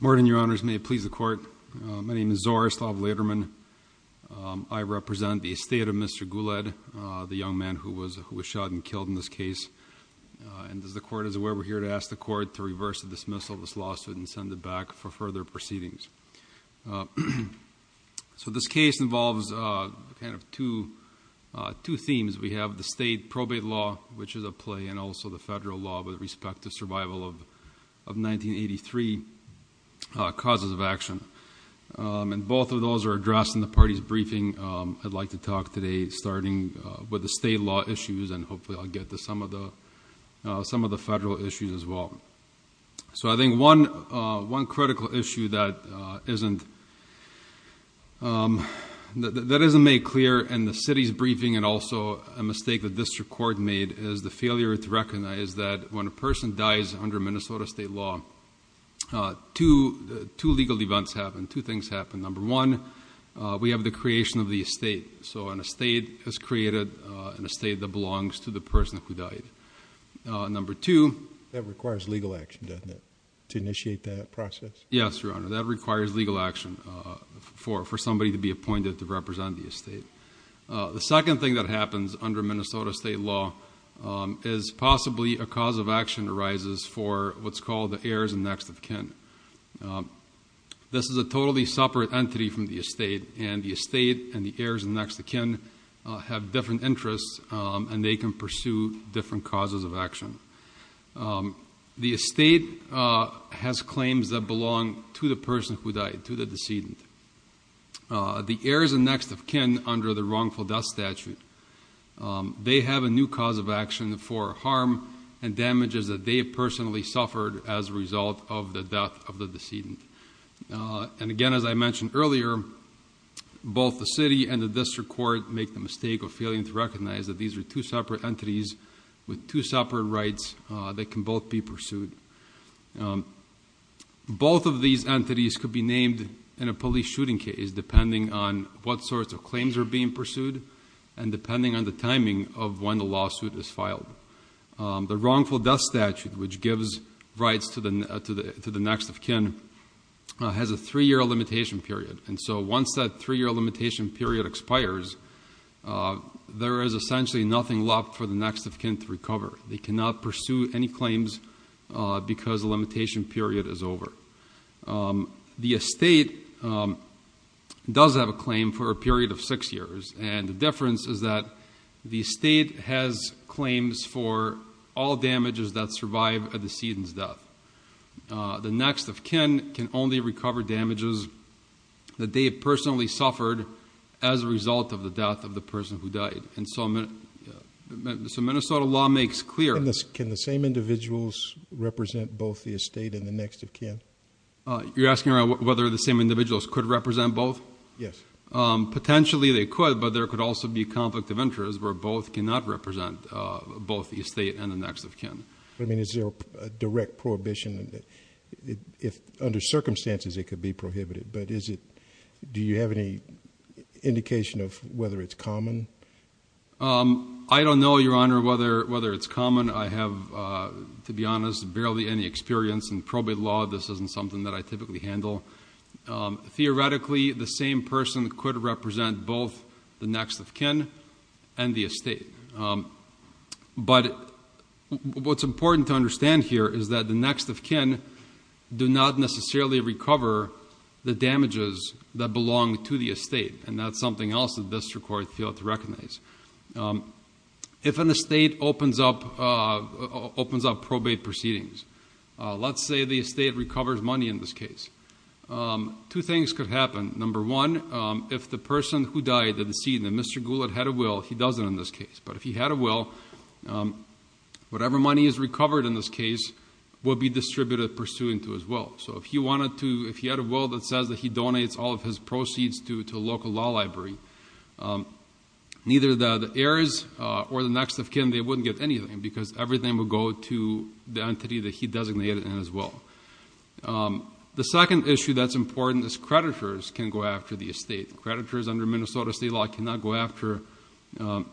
Good morning, your honors. May it please the court. My name is Zoris lab later men. I represent the estate of Mr Guled, the young man who was who was shot and killed in this case. And as the court is aware, we're here to ask the court to reverse dismissal this lawsuit and send it back for further proceedings. So this case involves kind of two, two themes. We have the state probate law, which is a play and also the federal law with respect to survival of, of 1983 causes of action. Um, and both of those are addressed in the party's briefing. Um, I'd like to talk today starting with the state law issues and hopefully I'll get to some of the, uh, some of the federal issues as well. So I think one, uh, one critical issue that, uh, isn't, um, that, that isn't made clear and the city's briefing and also a mistake that this record made is the failure to recognize that when a person dies under Minnesota state law, uh, to two legal events happen, two things happen. Number one, uh, we have the creation of the estate. So on a state has created, uh, in a state that belongs to the person who died. Uh, number two, that requires legal action, doesn't it? To initiate that process. Yes, Your Honor. That requires legal action, uh, for, for somebody to be appointed to represent the estate. Uh, the second thing that happens under Minnesota state law, um, is possibly a cause of action arises for what's called the heirs and next of kin. Um, this is a totally separate entity from the estate and the estate and the heirs and next of kin, uh, have different interests, um, and they can pursue different causes of action for harm and damages that they personally suffered as a result of the death of the decedent. Uh, and again, as I mentioned earlier, both the city and the district court make the mistake of failing to recognize that these are two separate entities with two separate rights, uh, that can both be pursued. Um, both of these entities could be named in a police shooting case, depending on what sorts of claims are being pursued and depending on the timing of when the lawsuit is filed. Um, the wrongful death statute, which gives rights to the, uh, to the, to the next of kin, uh, has a three-year limitation period. And so once that three-year limitation period expires, uh, there is essentially nothing left for the next of kin to recover. They cannot pursue any claims, uh, because the limitation period is over. Um, the estate, um, does have a claim for a period of six years. And the difference is that the estate has claims for all damages that survive a decedent's death. Uh, the next of kin can only recover damages that they personally suffered as a result of the death of the person who died. And so, uh, so Minnesota law makes clear, can the same individuals represent both the estate and the next of kin? Uh, you're asking around whether the same individuals could represent both? Yes. Um, potentially they could, but there could also be conflict of interest where both cannot represent, uh, both the estate and the next of kin. I mean, is there a direct prohibition that if under circumstances it could be prohibited, but is it, do you have any indication of whether it's common? Um, I don't know, Your Honor, whether, whether it's common. I have, uh, to be honest, barely any experience in probate law. This isn't something that I typically handle. Um, theoretically the same person could represent both the next of kin and the estate. Um, but what's important to understand here is that the next of kin do not necessarily recover the damages that belong to the estate. And that's something else that this court failed to recognize. Um, if an estate opens up, uh, opens up probate proceedings, uh, let's say the estate recovers money in this case. Um, two things could happen. Number one, um, if the person who died, the decedent, Mr. Goulet had a will, he doesn't in this case, but if he had a will, um, whatever money is recovered in this case will be distributed pursuant to his will. So if he wanted to, if he had a will that says that he donates all of his proceeds to, to a local law library, um, neither the, the heirs, uh, or the next of kin, they wouldn't get anything because everything would go to the entity that he designated in his will. Um, the second issue that's important is creditors can go after the estate. Creditors under Minnesota state law cannot go after, um,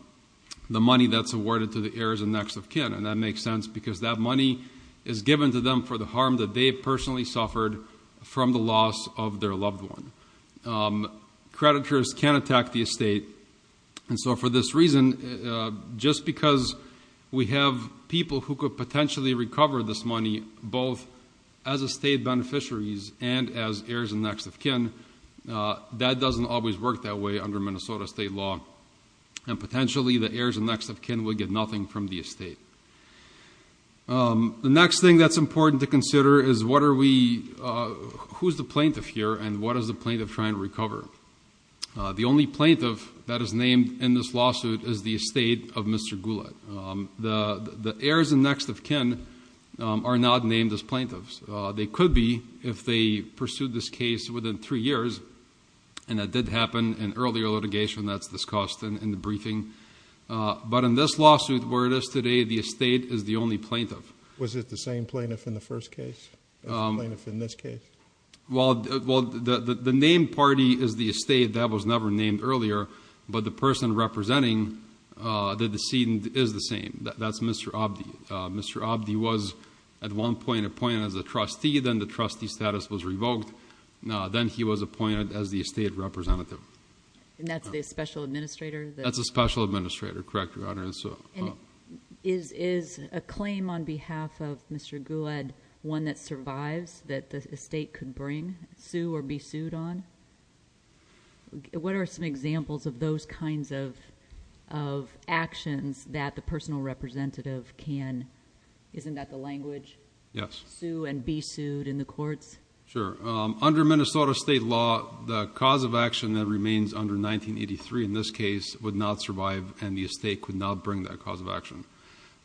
the money that's awarded to the heirs and next of kin. And that makes sense because that money is given to them for the harm that they personally suffered from the loss of their loved one. Um, creditors can attack the estate. And so for this reason, uh, just because we have people who could potentially recover this money both as a state beneficiaries and as heirs and next of kin, uh, that doesn't always work that way under Minnesota state law. And potentially the heirs and next of kin would get nothing from the estate. Um, the next thing that's important to consider is what are we, uh, who's the plaintiff here and what is the plaintiff trying to recover? Uh, the only plaintiff that is named in this lawsuit is the estate of Mr. Gula. Um, the, the heirs and next of kin, um, are not named as plaintiffs. Uh, they could be if they pursued this case within three years and that did happen in earlier litigation that's discussed in the case. This lawsuit where it is today, the estate is the only plaintiff. Was it the same plaintiff in the first case? Um, plaintiff in this case? Well, well, the, the, the name party is the estate that was never named earlier, but the person representing, uh, the decedent is the same. That's Mr. Abdi. Uh, Mr. Abdi was at one point appointed as a trustee. Then the trustee status was revoked. Now, then he was appointed as the estate representative and that's the special administrator. That's a special administrator. Correct. Your Honor. And so is, is a claim on behalf of Mr. Gula and one that survives that the state could bring sue or be sued on. What are some examples of those kinds of, of actions that the personal representative can, isn't that the language? Yes. Sue and be sued in the courts. Sure. Um, under Minnesota state law, the cause of action that remains under 1983 in this case would not survive and the estate could not bring that cause of action.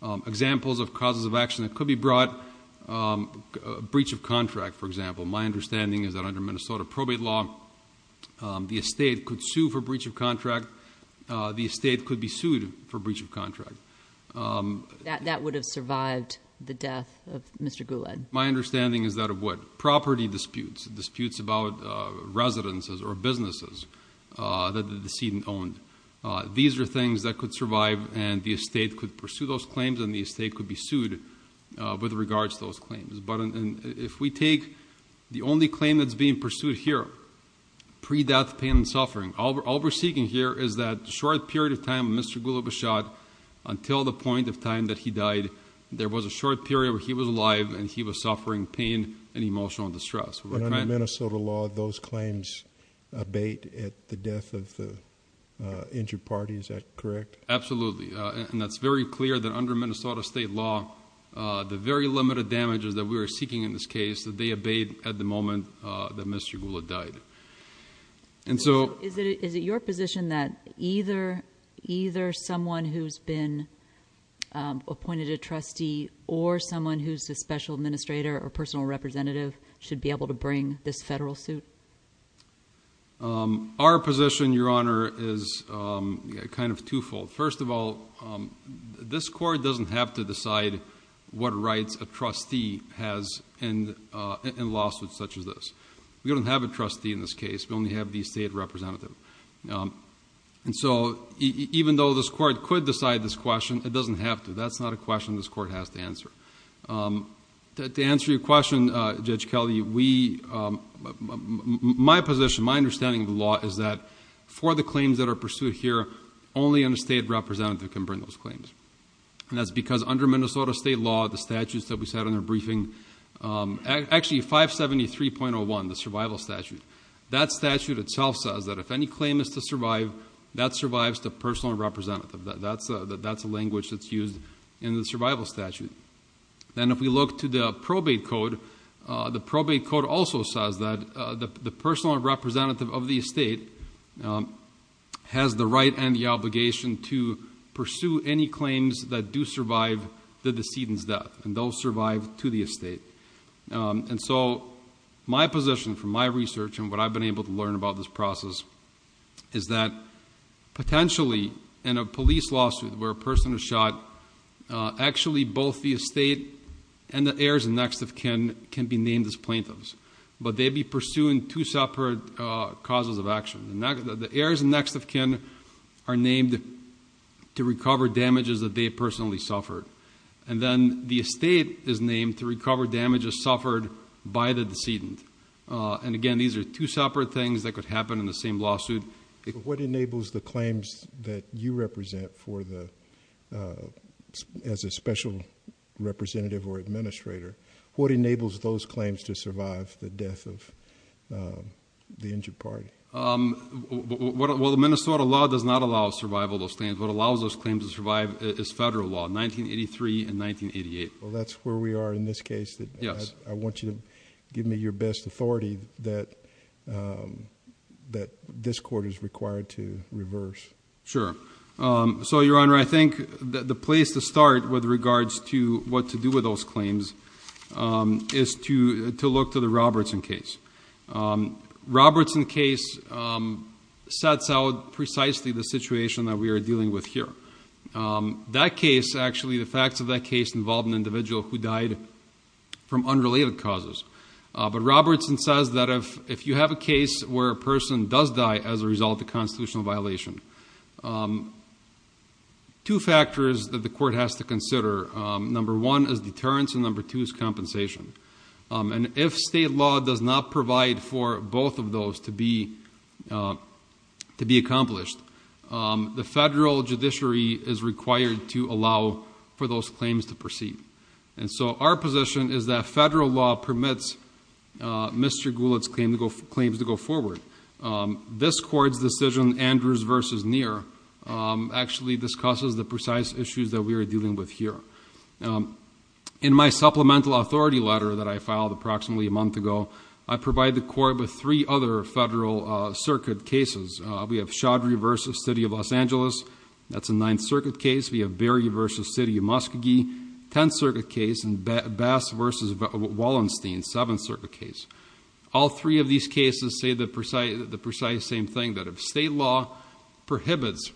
Um, examples of causes of action that could be brought, um, a breach of contract. For example, my understanding is that under Minnesota probate law, um, the estate could sue for breach of contract. Uh, the estate could be sued for breach of contract. Um, that, that would have survived the death of Mr. Gula. My understanding is that a wood property disputes, disputes about, uh, residences or businesses, uh, that the decedent owned. Uh, these are things that could survive and the estate could pursue those claims and the estate could be sued, uh, with regards to those claims. But if we take the only claim that's being pursued here, pre-death pain and suffering, all we're, all we're seeking here is that short period of time, Mr. Gula was shot until the point of time that he died. There was a short period where he was alive and he was suffering pain and emotional distress. And under Minnesota law, those claims abate at the death of the, uh, injured party. Is that correct? Absolutely. Uh, and that's very clear that under Minnesota state law, uh, the very limited damages that we were seeking in this case that they abate at the moment, uh, that Mr. Gula died. And so is it, is it your position that either, either someone who's been, um, appointed a trustee or someone who's a special administrator or personal representative should be able to bring this federal suit? Um, our position, your honor, is, um, kind of twofold. First of all, um, this court doesn't have to decide what rights a trustee has and, uh, and lawsuits such as this. We don't have a trustee in this case. We only have the state representative. Um, and so even though this court could decide this question, it doesn't have to, that's not a question this court has to answer. Um, to answer your question, uh, Judge Kelly, we, um, my position, my understanding of the law is that for the claims that are pursued here, only an estate representative can bring those claims. And that's because under Minnesota state law, the statutes that we said in our briefing, um, actually 573.01, the survival statute, that statute itself says that if any claim is to survive, that survives the personal representative. That's a, that's a language that's used in the survival statute. Then if we look to the probate code, uh, the probate code also says that, uh, the, the personal representative of the estate, um, has the right and the obligation to pursue any claims that do survive the decedent's death and they'll survive to the estate. Um, and so my position from my research and what I've been able to learn about this process is that potentially in a police lawsuit where a person is shot, uh, actually both the estate and the heirs and next of kin can be named as plaintiffs, but they'd be pursuing two separate, uh, causes of action. The heirs and next of kin are named to recover damages that they personally suffered. And then the estate is named to recover damages suffered by the decedent. Uh, and again, these are two separate things that could happen in the same lawsuit. What enables the claims that you represent for the, uh, as a special representative or administrator, what enables those claims to survive the death of, uh, the injured party? Um, what, well, the Minnesota law does not allow survival of those claims. What allows those claims to survive is federal law, 1983 and 1988. Well, that's where we are in this case that I want you to give me your best authority that, um, that this court is required to reverse. Sure. Um, so Your Honor, I think the place to start with regards to what to do with those cases, um, sets out precisely the situation that we are dealing with here. Um, that case, actually the facts of that case involved an individual who died from unrelated causes. Uh, but Robertson says that if, if you have a case where a person does die as a result of constitutional violation, um, two factors that the court has to consider, um, number one is deterrence and number two is compensation. Um, and if state law does not provide for the, uh, to be accomplished, um, the federal judiciary is required to allow for those claims to proceed. And so our position is that federal law permits, uh, Mr. Goulet's claim to go, claims to go forward. Um, this court's decision, Andrews versus Neer, um, actually discusses the precise issues that we are dealing with here. Um, in my supplemental authority letter that I filed approximately a month ago, I provide the court with three other federal, uh, circuit cases. Uh, we have Chaudhry versus city of Los Angeles. That's a ninth circuit case. We have Berry versus city of Muskogee, 10th circuit case and Bass versus Wallenstein, seventh circuit case. All three of these cases say the precise, the precise same thing that if state law prohibits,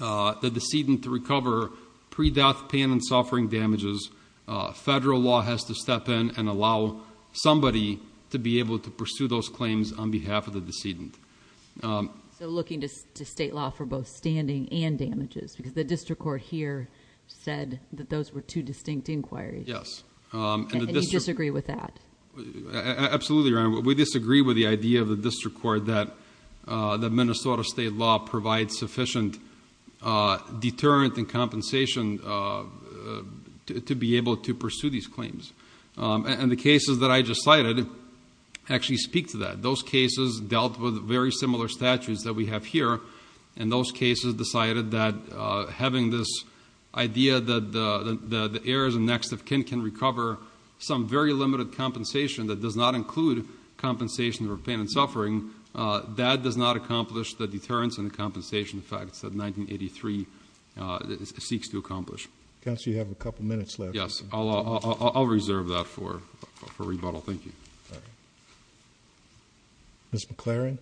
uh, the decedent to recover pre-death pain and suffering damages, uh, federal law has to step in and allow somebody to be able to pursue those claims on behalf of the decedent. Um, so looking to state law for both standing and damages, because the district court here said that those were two distinct inquiries. Yes. Um, and you disagree with that? Absolutely. We disagree with the idea of the district court that, uh, the Minnesota state law provides sufficient, uh, deterrent and compensation, uh, to, to be able to pursue these claims. Um, and the cases that I just cited actually speak to that. Those cases dealt with very similar statutes that we have here. And those cases decided that, uh, having this idea that the, the, the, the heirs and next of kin can recover some very limited compensation that does not include compensation for pain and suffering, uh, that does not accomplish the deterrence and the compensation facts that 1983, uh, seeks to accomplish. Counsel, you have a couple of minutes left. Yes. I'll, I'll, I'll, I'll reserve that for, for rebuttal. Thank you. Ms. McLaren.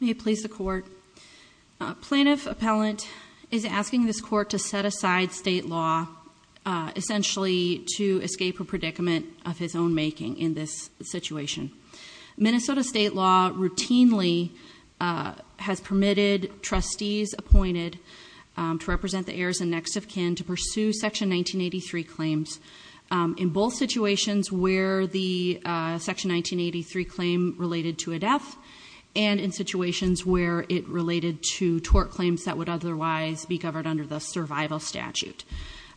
May it please the court. Uh, plaintiff appellant is asking this court to set aside state law, uh, essentially to escape a predicament of his own making in this situation. Minnesota state law routinely, uh, has permitted trustees appointed, um, to represent the heirs and next of kin to pursue section 1983 claims, um, in both situations where the, uh, section 1983 claim related to a death and in situations where it related to tort claims that would otherwise be governed under the survival statute.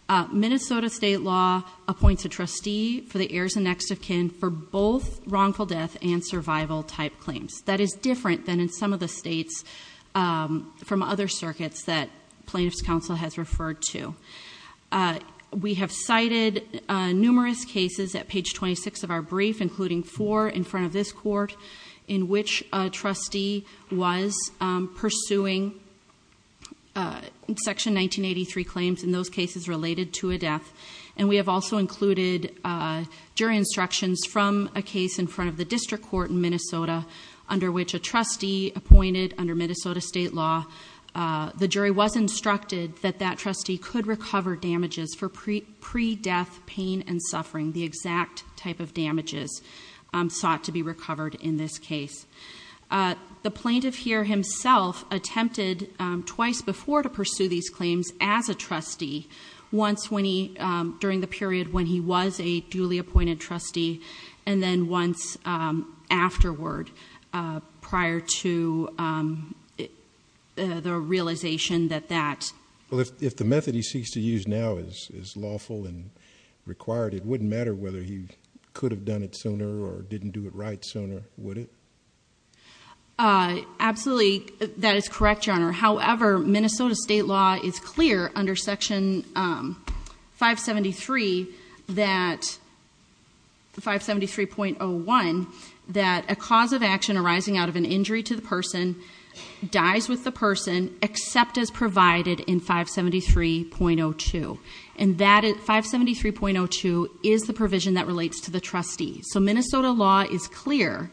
Uh, Minnesota state law appoints a trustee for the heirs and next of kin for both wrongful death and survival type claims. That is different than in some of the states, um, from other circuits that plaintiff's counsel has referred to. Uh, we have cited, uh, numerous cases at page 26 of our brief, including four in front of this court in which a trustee was, um, pursuing, uh, section 1983 claims in those cases related to a death. And we have also included, uh, jury instructions from a case in front of the district court in Minnesota under which a trustee appointed under Minnesota state law. Uh, the jury was instructed that that trustee could recover damages for pre, pre-death pain and suffering. The exact type of damages, um, sought to be recovered in this case. Uh, the plaintiff here himself attempted, um, twice before to pursue these claims as a trustee once when he, um, during the period when he was a duly appointed trustee and then once, um, afterward, uh, prior to, um, uh, the realization that that. Well, if, if the method he seeks to use now is lawful and required, it wouldn't matter whether he could have done it sooner or didn't do it right sooner, would it? Uh, absolutely. That is correct, Your Honor. However, Minnesota state law is clear under section, um, 573 that, 573.01, that a cause of action arising out of an injury to the person dies with the person except as provided in 573.02. And that 573.02 is the provision that relates to the trustee. So Minnesota law is clear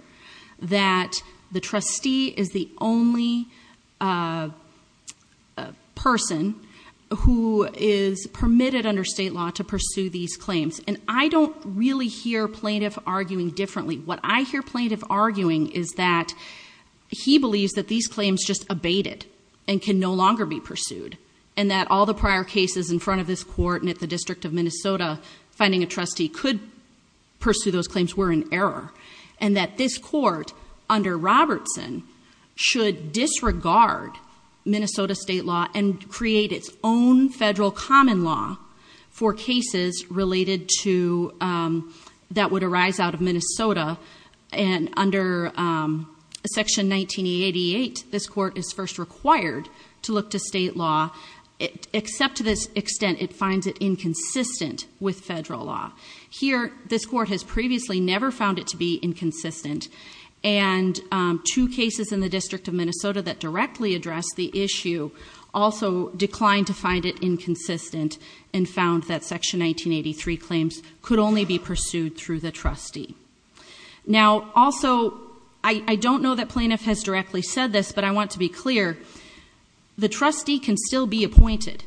that the trustee is the only, uh, person who is permitted under state law to pursue these claims. And I don't really hear plaintiff arguing differently. What I hear plaintiff arguing is that he believes that these claims just abated and can no longer be pursued. And that all the prior cases in front of this court and at the district of Minnesota finding a trustee could pursue those claims were in error. And that this court under Robertson should disregard Minnesota state law and create its own federal common law for cases related to, um, that would arise out of Minnesota. And under, um, section 1988, this court is first required to look to state law except to this extent it finds it inconsistent with federal law. Here, this court has previously never found it to be inconsistent. And, um, two cases in the district of Minnesota that directly addressed the issue also declined to find it inconsistent and found that section 1983 claims could only be pursued through the trustee. Now, also, I don't know that plaintiff has directly said this, but I want to be clear. The trustee can still be appointed.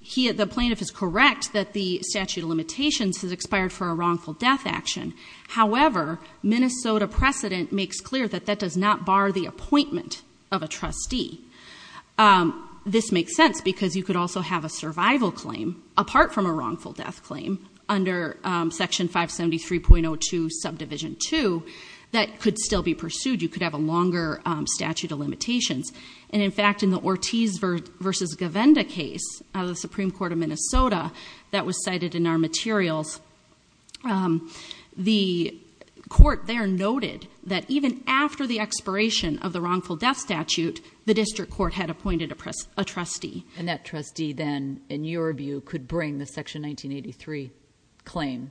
He, the plaintiff is correct that the statute of limitations has expired for a wrongful death action. However, Minnesota precedent makes clear that that does not bar the appointment of a trustee. Um, this makes sense because you also have a survival claim apart from a wrongful death claim under, um, section 573.02 subdivision two that could still be pursued. You could have a longer statute of limitations. And in fact, in the Ortiz versus Govinda case, uh, the Supreme court of Minnesota that was cited in our materials, um, the court there noted that even after the expiration of the wrongful death statute, the district court had appointed a press, a trustee. And that trustee then in your view could bring the section 1983 claim.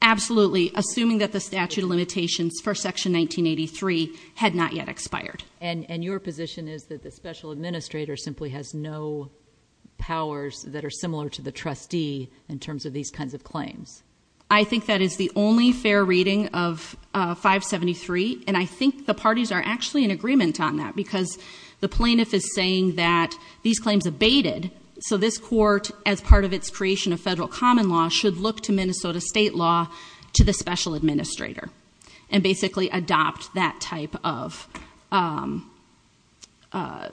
Absolutely. Assuming that the statute of limitations for section 1983 had not yet expired. And your position is that the special administrator simply has no powers that are similar to the trustee in terms of these kinds of claims. I think that is the only fair reading of, uh, 573. And I think the parties are actually in that because the plaintiff is saying that these claims abated. So this court as part of its creation of federal common law should look to Minnesota state law to the special administrator and basically adopt that type of, um, uh,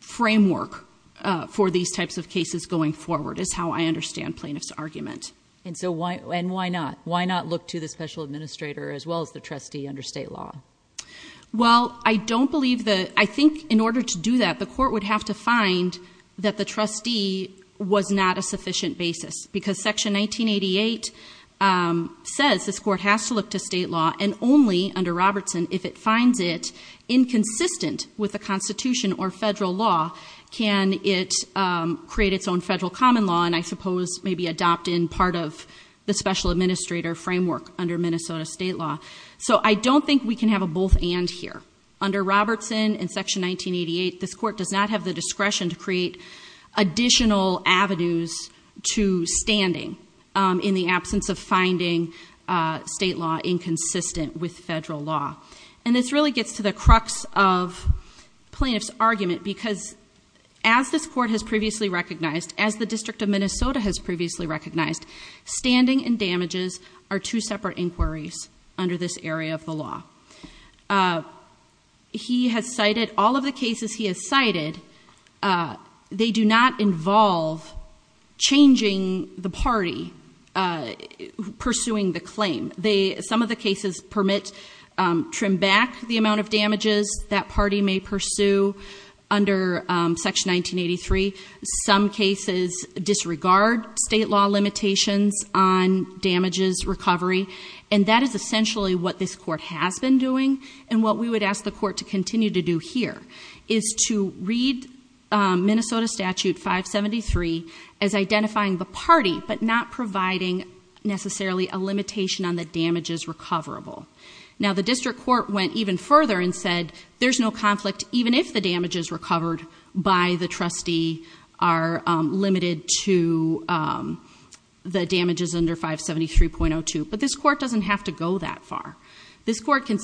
framework, uh, for these types of cases going forward is how I understand plaintiff's argument. And so why, and why not, why not look to the I think in order to do that, the court would have to find that the trustee was not a sufficient basis because section 1988, um, says this court has to look to state law and only under Robertson, if it finds it inconsistent with the constitution or federal law, can it, um, create its own federal common law. And I suppose maybe adopt in part of the special administrator framework under Minnesota state law. So I don't think we can have a both and here under Robertson and section 1988, this court does not have the discretion to create additional avenues to standing, um, in the absence of finding a state law inconsistent with federal law. And this really gets to the crux of plaintiff's argument because as this court has previously recognized, as the district of Minnesota has separate inquiries under this area of the law, uh, he has cited all of the cases he has cited. Uh, they do not involve changing the party, uh, pursuing the claim. They, some of the cases permit, um, trim back the amount of damages that party may pursue under, um, section 1983. Some cases disregard state law limitations on damages recovery. And that is essentially what this court has been doing. And what we would ask the court to continue to do here is to read, um, Minnesota statute 573 as identifying the party, but not providing necessarily a limitation on the damages recoverable. Now the district court went even further and said there's no are, um, limited to, um, the damages under 573.02, but this court doesn't have to go that far. This court can,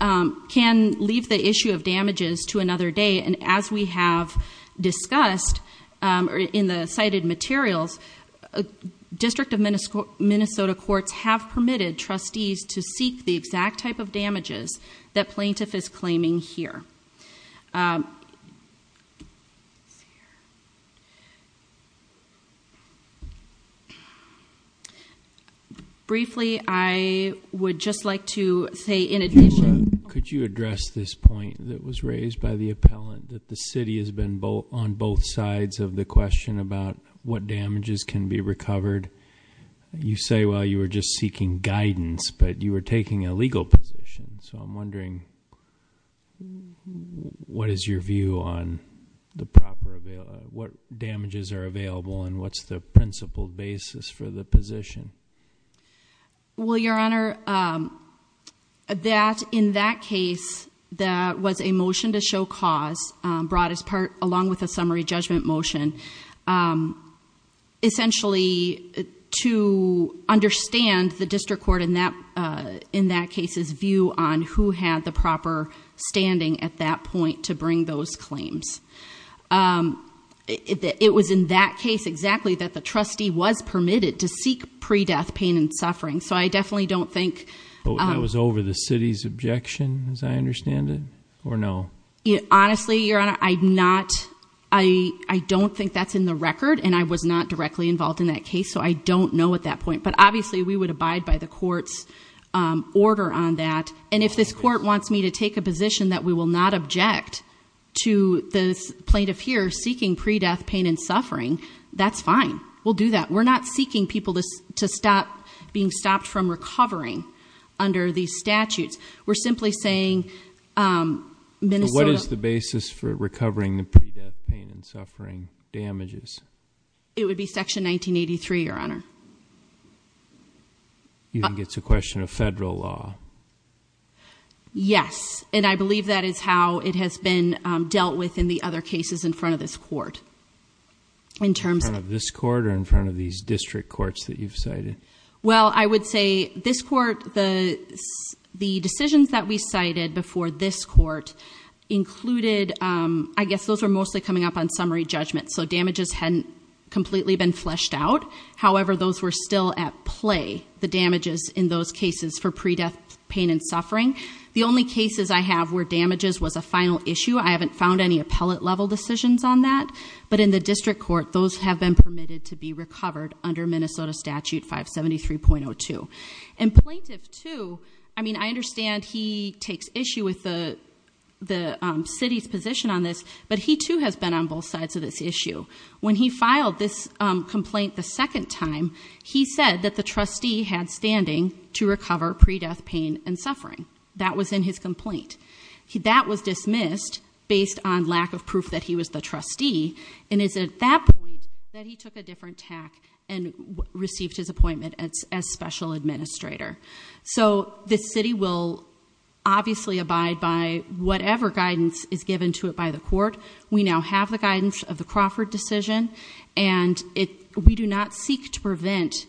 um, can leave the issue of damages to another day. And as we have discussed, um, in the cited materials, a district of Minnesota courts have permitted trustees to seek the exact type of damages that plaintiff is claiming here. Um, briefly, I would just like to say in addition. Could you address this point that was raised by the appellant that the city has been both on both sides of the question about what damages can be recovered? You say, well, you were just seeking guidance, but you were taking a legal position. So I'm wondering. What is your view on the proper, what damages are available and what's the principle basis for the position? Well, your honor, um, that in that case, that was a motion to show cause, um, broadest part, along with a summary judgment motion, um, essentially to understand the district court in that, uh, in that case's view on who had the point to bring those claims. Um, it, it was in that case, exactly that the trustee was permitted to seek pre-death pain and suffering. So I definitely don't think that was over the city's objection as I understand it or no, honestly, your honor, I not, I don't think that's in the record and I was not directly involved in that case. So I don't know at that point, but obviously we would abide by the court's, um, order on that. And if this court wants me to take a position that we will not object to the plaintiff here seeking pre-death pain and suffering, that's fine. We'll do that. We're not seeking people to stop being stopped from recovering under these statutes. We're simply saying, um, what is the basis for recovering the pre-death pain and suffering damages? It would be section 1983, your honor. You think it's a question of federal law? Yes. And I believe that is how it has been dealt with in the other cases in front of this court. In terms of this court or in front of these district courts that you've cited? Well, I would say this court, the, the decisions that we cited before this court included, um, I guess those are mostly coming up on summary judgment. So damages hadn't completely been fleshed out. However, those were still at play, the damages in those cases for pre-death pain and suffering. The only cases I have where damages was a final issue. I haven't found any appellate level decisions on that, but in the district court, those have been permitted to be recovered under Minnesota statute 573.02. And plaintiff too, I mean, I understand he takes issue with the, the, um, city's position on this, but he too has been on both sides of this issue. When he filed this complaint the second time, he said that the trustee had standing to recover pre-death pain and suffering. That was in his complaint. That was dismissed based on lack of proof that he was the trustee. And it's at that point that he took a different tack and received his appointment as special administrator. So the city will obviously abide by whatever guidance is given to it by the court. We now have the guidance of the Crawford decision and it, we do not seek to prevent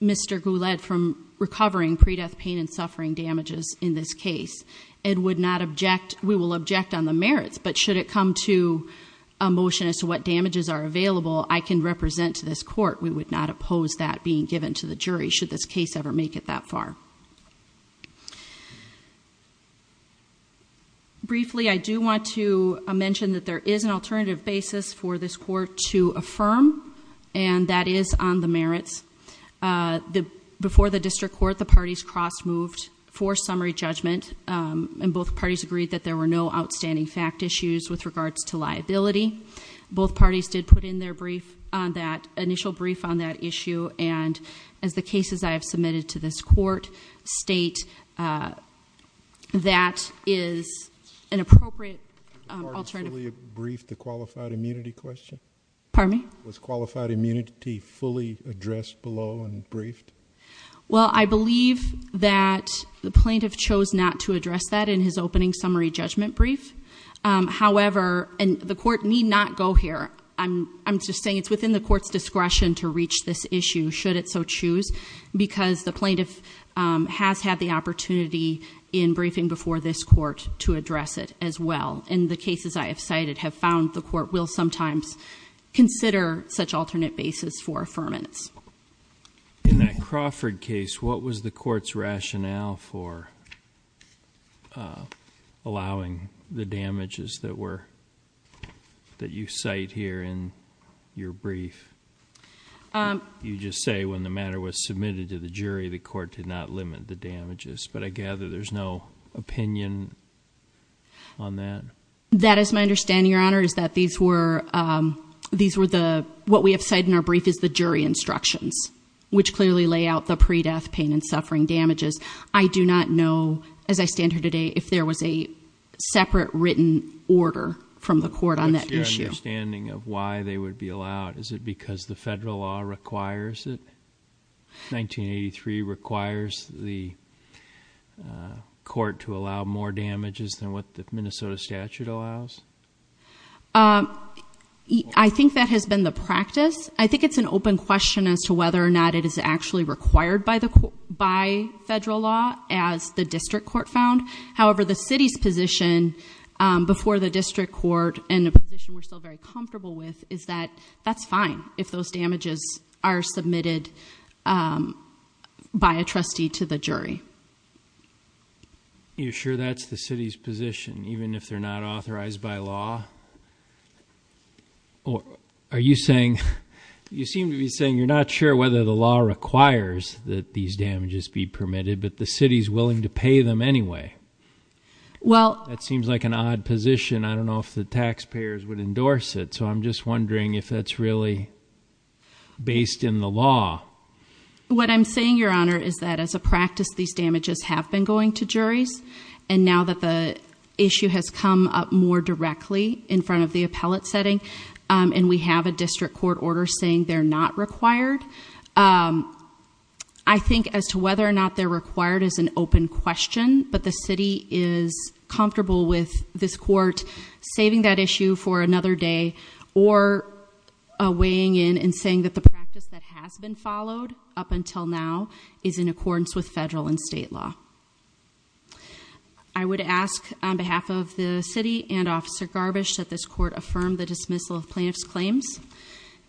Mr. Goulet from recovering pre-death pain and suffering damages in this case. It would not object. We will object on the merits, but should it come to a motion as to what damages are available, I can represent to this court. We would not oppose that being given to the jury should this case ever make it that far. Briefly, I do want to mention that there is an alternative basis for this court to affirm, and that is on the merits. Uh, the, before the district court, the parties cross moved for summary judgment, um, and both parties agreed that there were no outstanding fact issues with regards to liability. Both parties did put in their brief on that initial brief on that issue. And as the cases I have submitted to this court state, uh, that is an appropriate, um, alternative brief, the qualified immunity question. Pardon me? Was qualified immunity fully addressed below and briefed? Well, I believe that the plaintiff chose not to address that in his opening summary judgment brief. Um, however, and the court need not go here. I'm, I'm just saying it's within the court's discretion to reach this issue, should it so choose, because the plaintiff, um, has had the opportunity in briefing before this court to address it as well. And the cases I have cited have found the court will sometimes consider such alternate basis for affirmance. In that Crawford case, what was the court's rationale for, uh, allowing the damages that were, that you cite here in your brief? Um, you just say when the matter was submitted to the jury, the court did not limit the damages, but I gather there's no opinion on that. That is my understanding. Your honor is that these were, um, these were the, what we have said in our brief is the jury instructions, which clearly lay out the pre-death pain and suffering damages. I do not know as I stand here today, if there was a separate written order from the court on that issue. What's your understanding of why they would be allowed? Is it because the federal law requires it? 1983 requires the court to allow more damages than what the Minnesota statute allows? Um, I think that has been the practice. I think it's an open question as to whether or not it is actually required by the court, by federal law as the district court found. However, the city's position, um, before the district court and the position we're still very comfortable with is that that's fine. If those damages are submitted, um, by a trustee to the jury, you're sure that's the city's position, even if they're not authorized by law or are you saying you seem to be saying you're not sure whether the law requires that these damages be permitted, but the city's willing to pay them anyway. Well, that seems like an odd position. I don't know if the taxpayers would endorse it. So I'm just wondering if that's really based in the law. What I'm saying, your honor, is that as a practice, these damages have been going to juries. And now that the issue has come up more directly in front of the appellate setting, um, and we have a district court order saying they're not required. Um, I think as to whether or not they're required as an open question, but the city is comfortable with this court saving that issue for another day or weighing in and saying that the practice that has been followed up until now is in accordance with federal and state law. I would ask on behalf of the city and officer garbage that this court affirmed the dismissal of plaintiff's claims.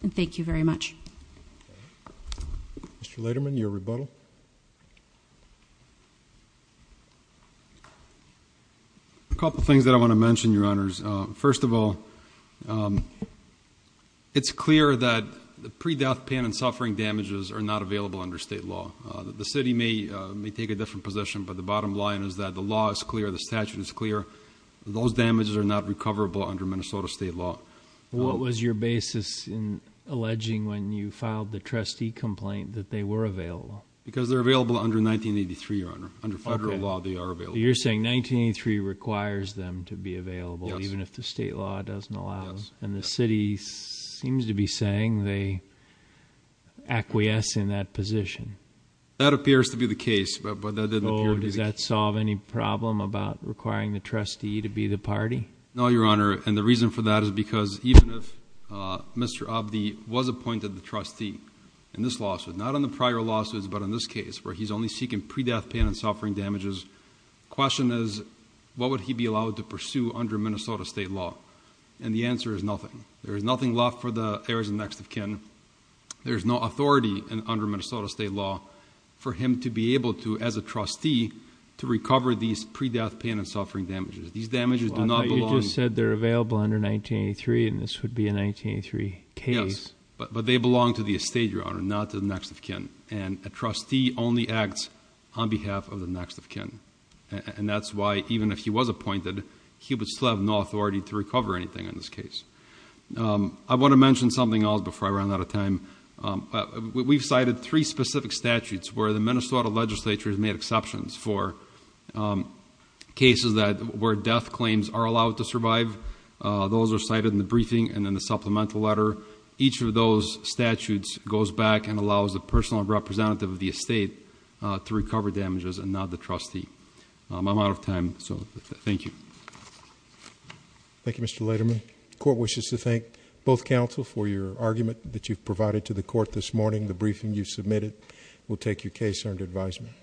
And thank you very much. Mr. Laterman, your rebuttal. A couple of things that I want to mention your honors. Um, first of all, um, it's clear that the pre-death pain and suffering damages are not available under state law. Uh, that the city may, uh, may take a different position, but the bottom line is that the law is clear. The statute is clear. Those damages are not recoverable under Minnesota state law. What was your basis in alleging when you filed the trustee complaint that they were available? Because they're available under 1983 or under, under federal law, they are available. You're saying 1983 requires them to be a acquiesce in that position. That appears to be the case, but that didn't. Oh, does that solve any problem about requiring the trustee to be the party? No, your honor. And the reason for that is because even if, uh, Mr. Abdi was appointed the trustee in this lawsuit, not on the prior lawsuits, but in this case where he's only seeking pre-death pain and suffering damages question is what would he be allowed to pursue under Minnesota state law? And the answer is there is nothing left for the areas of next of kin. There's no authority and under Minnesota state law for him to be able to, as a trustee, to recover these pre-death pain and suffering damages. These damages do not belong. You just said they're available under 1983 and this would be a 1983 case, but they belong to the estate, your honor, not to the next of kin. And a trustee only acts on behalf of the next of kin. And that's why even if he was appointed, he would still have authority to recover anything in this case. Um, I want to mention something else before I run out of time. Um, we've cited three specific statutes where the Minnesota legislature has made exceptions for, um, cases that were death claims are allowed to survive. Uh, those are cited in the briefing and then the supplemental letter. Each of those statutes goes back and allows the personal representative of the estate, uh, to recover damages and not the trustee. Um, I'm out of time, so thank you. Thank you, Mr. Laterman. Court wishes to thank both counsel for your argument that you've provided to the court this morning. The briefing you submitted will take your case under advisement.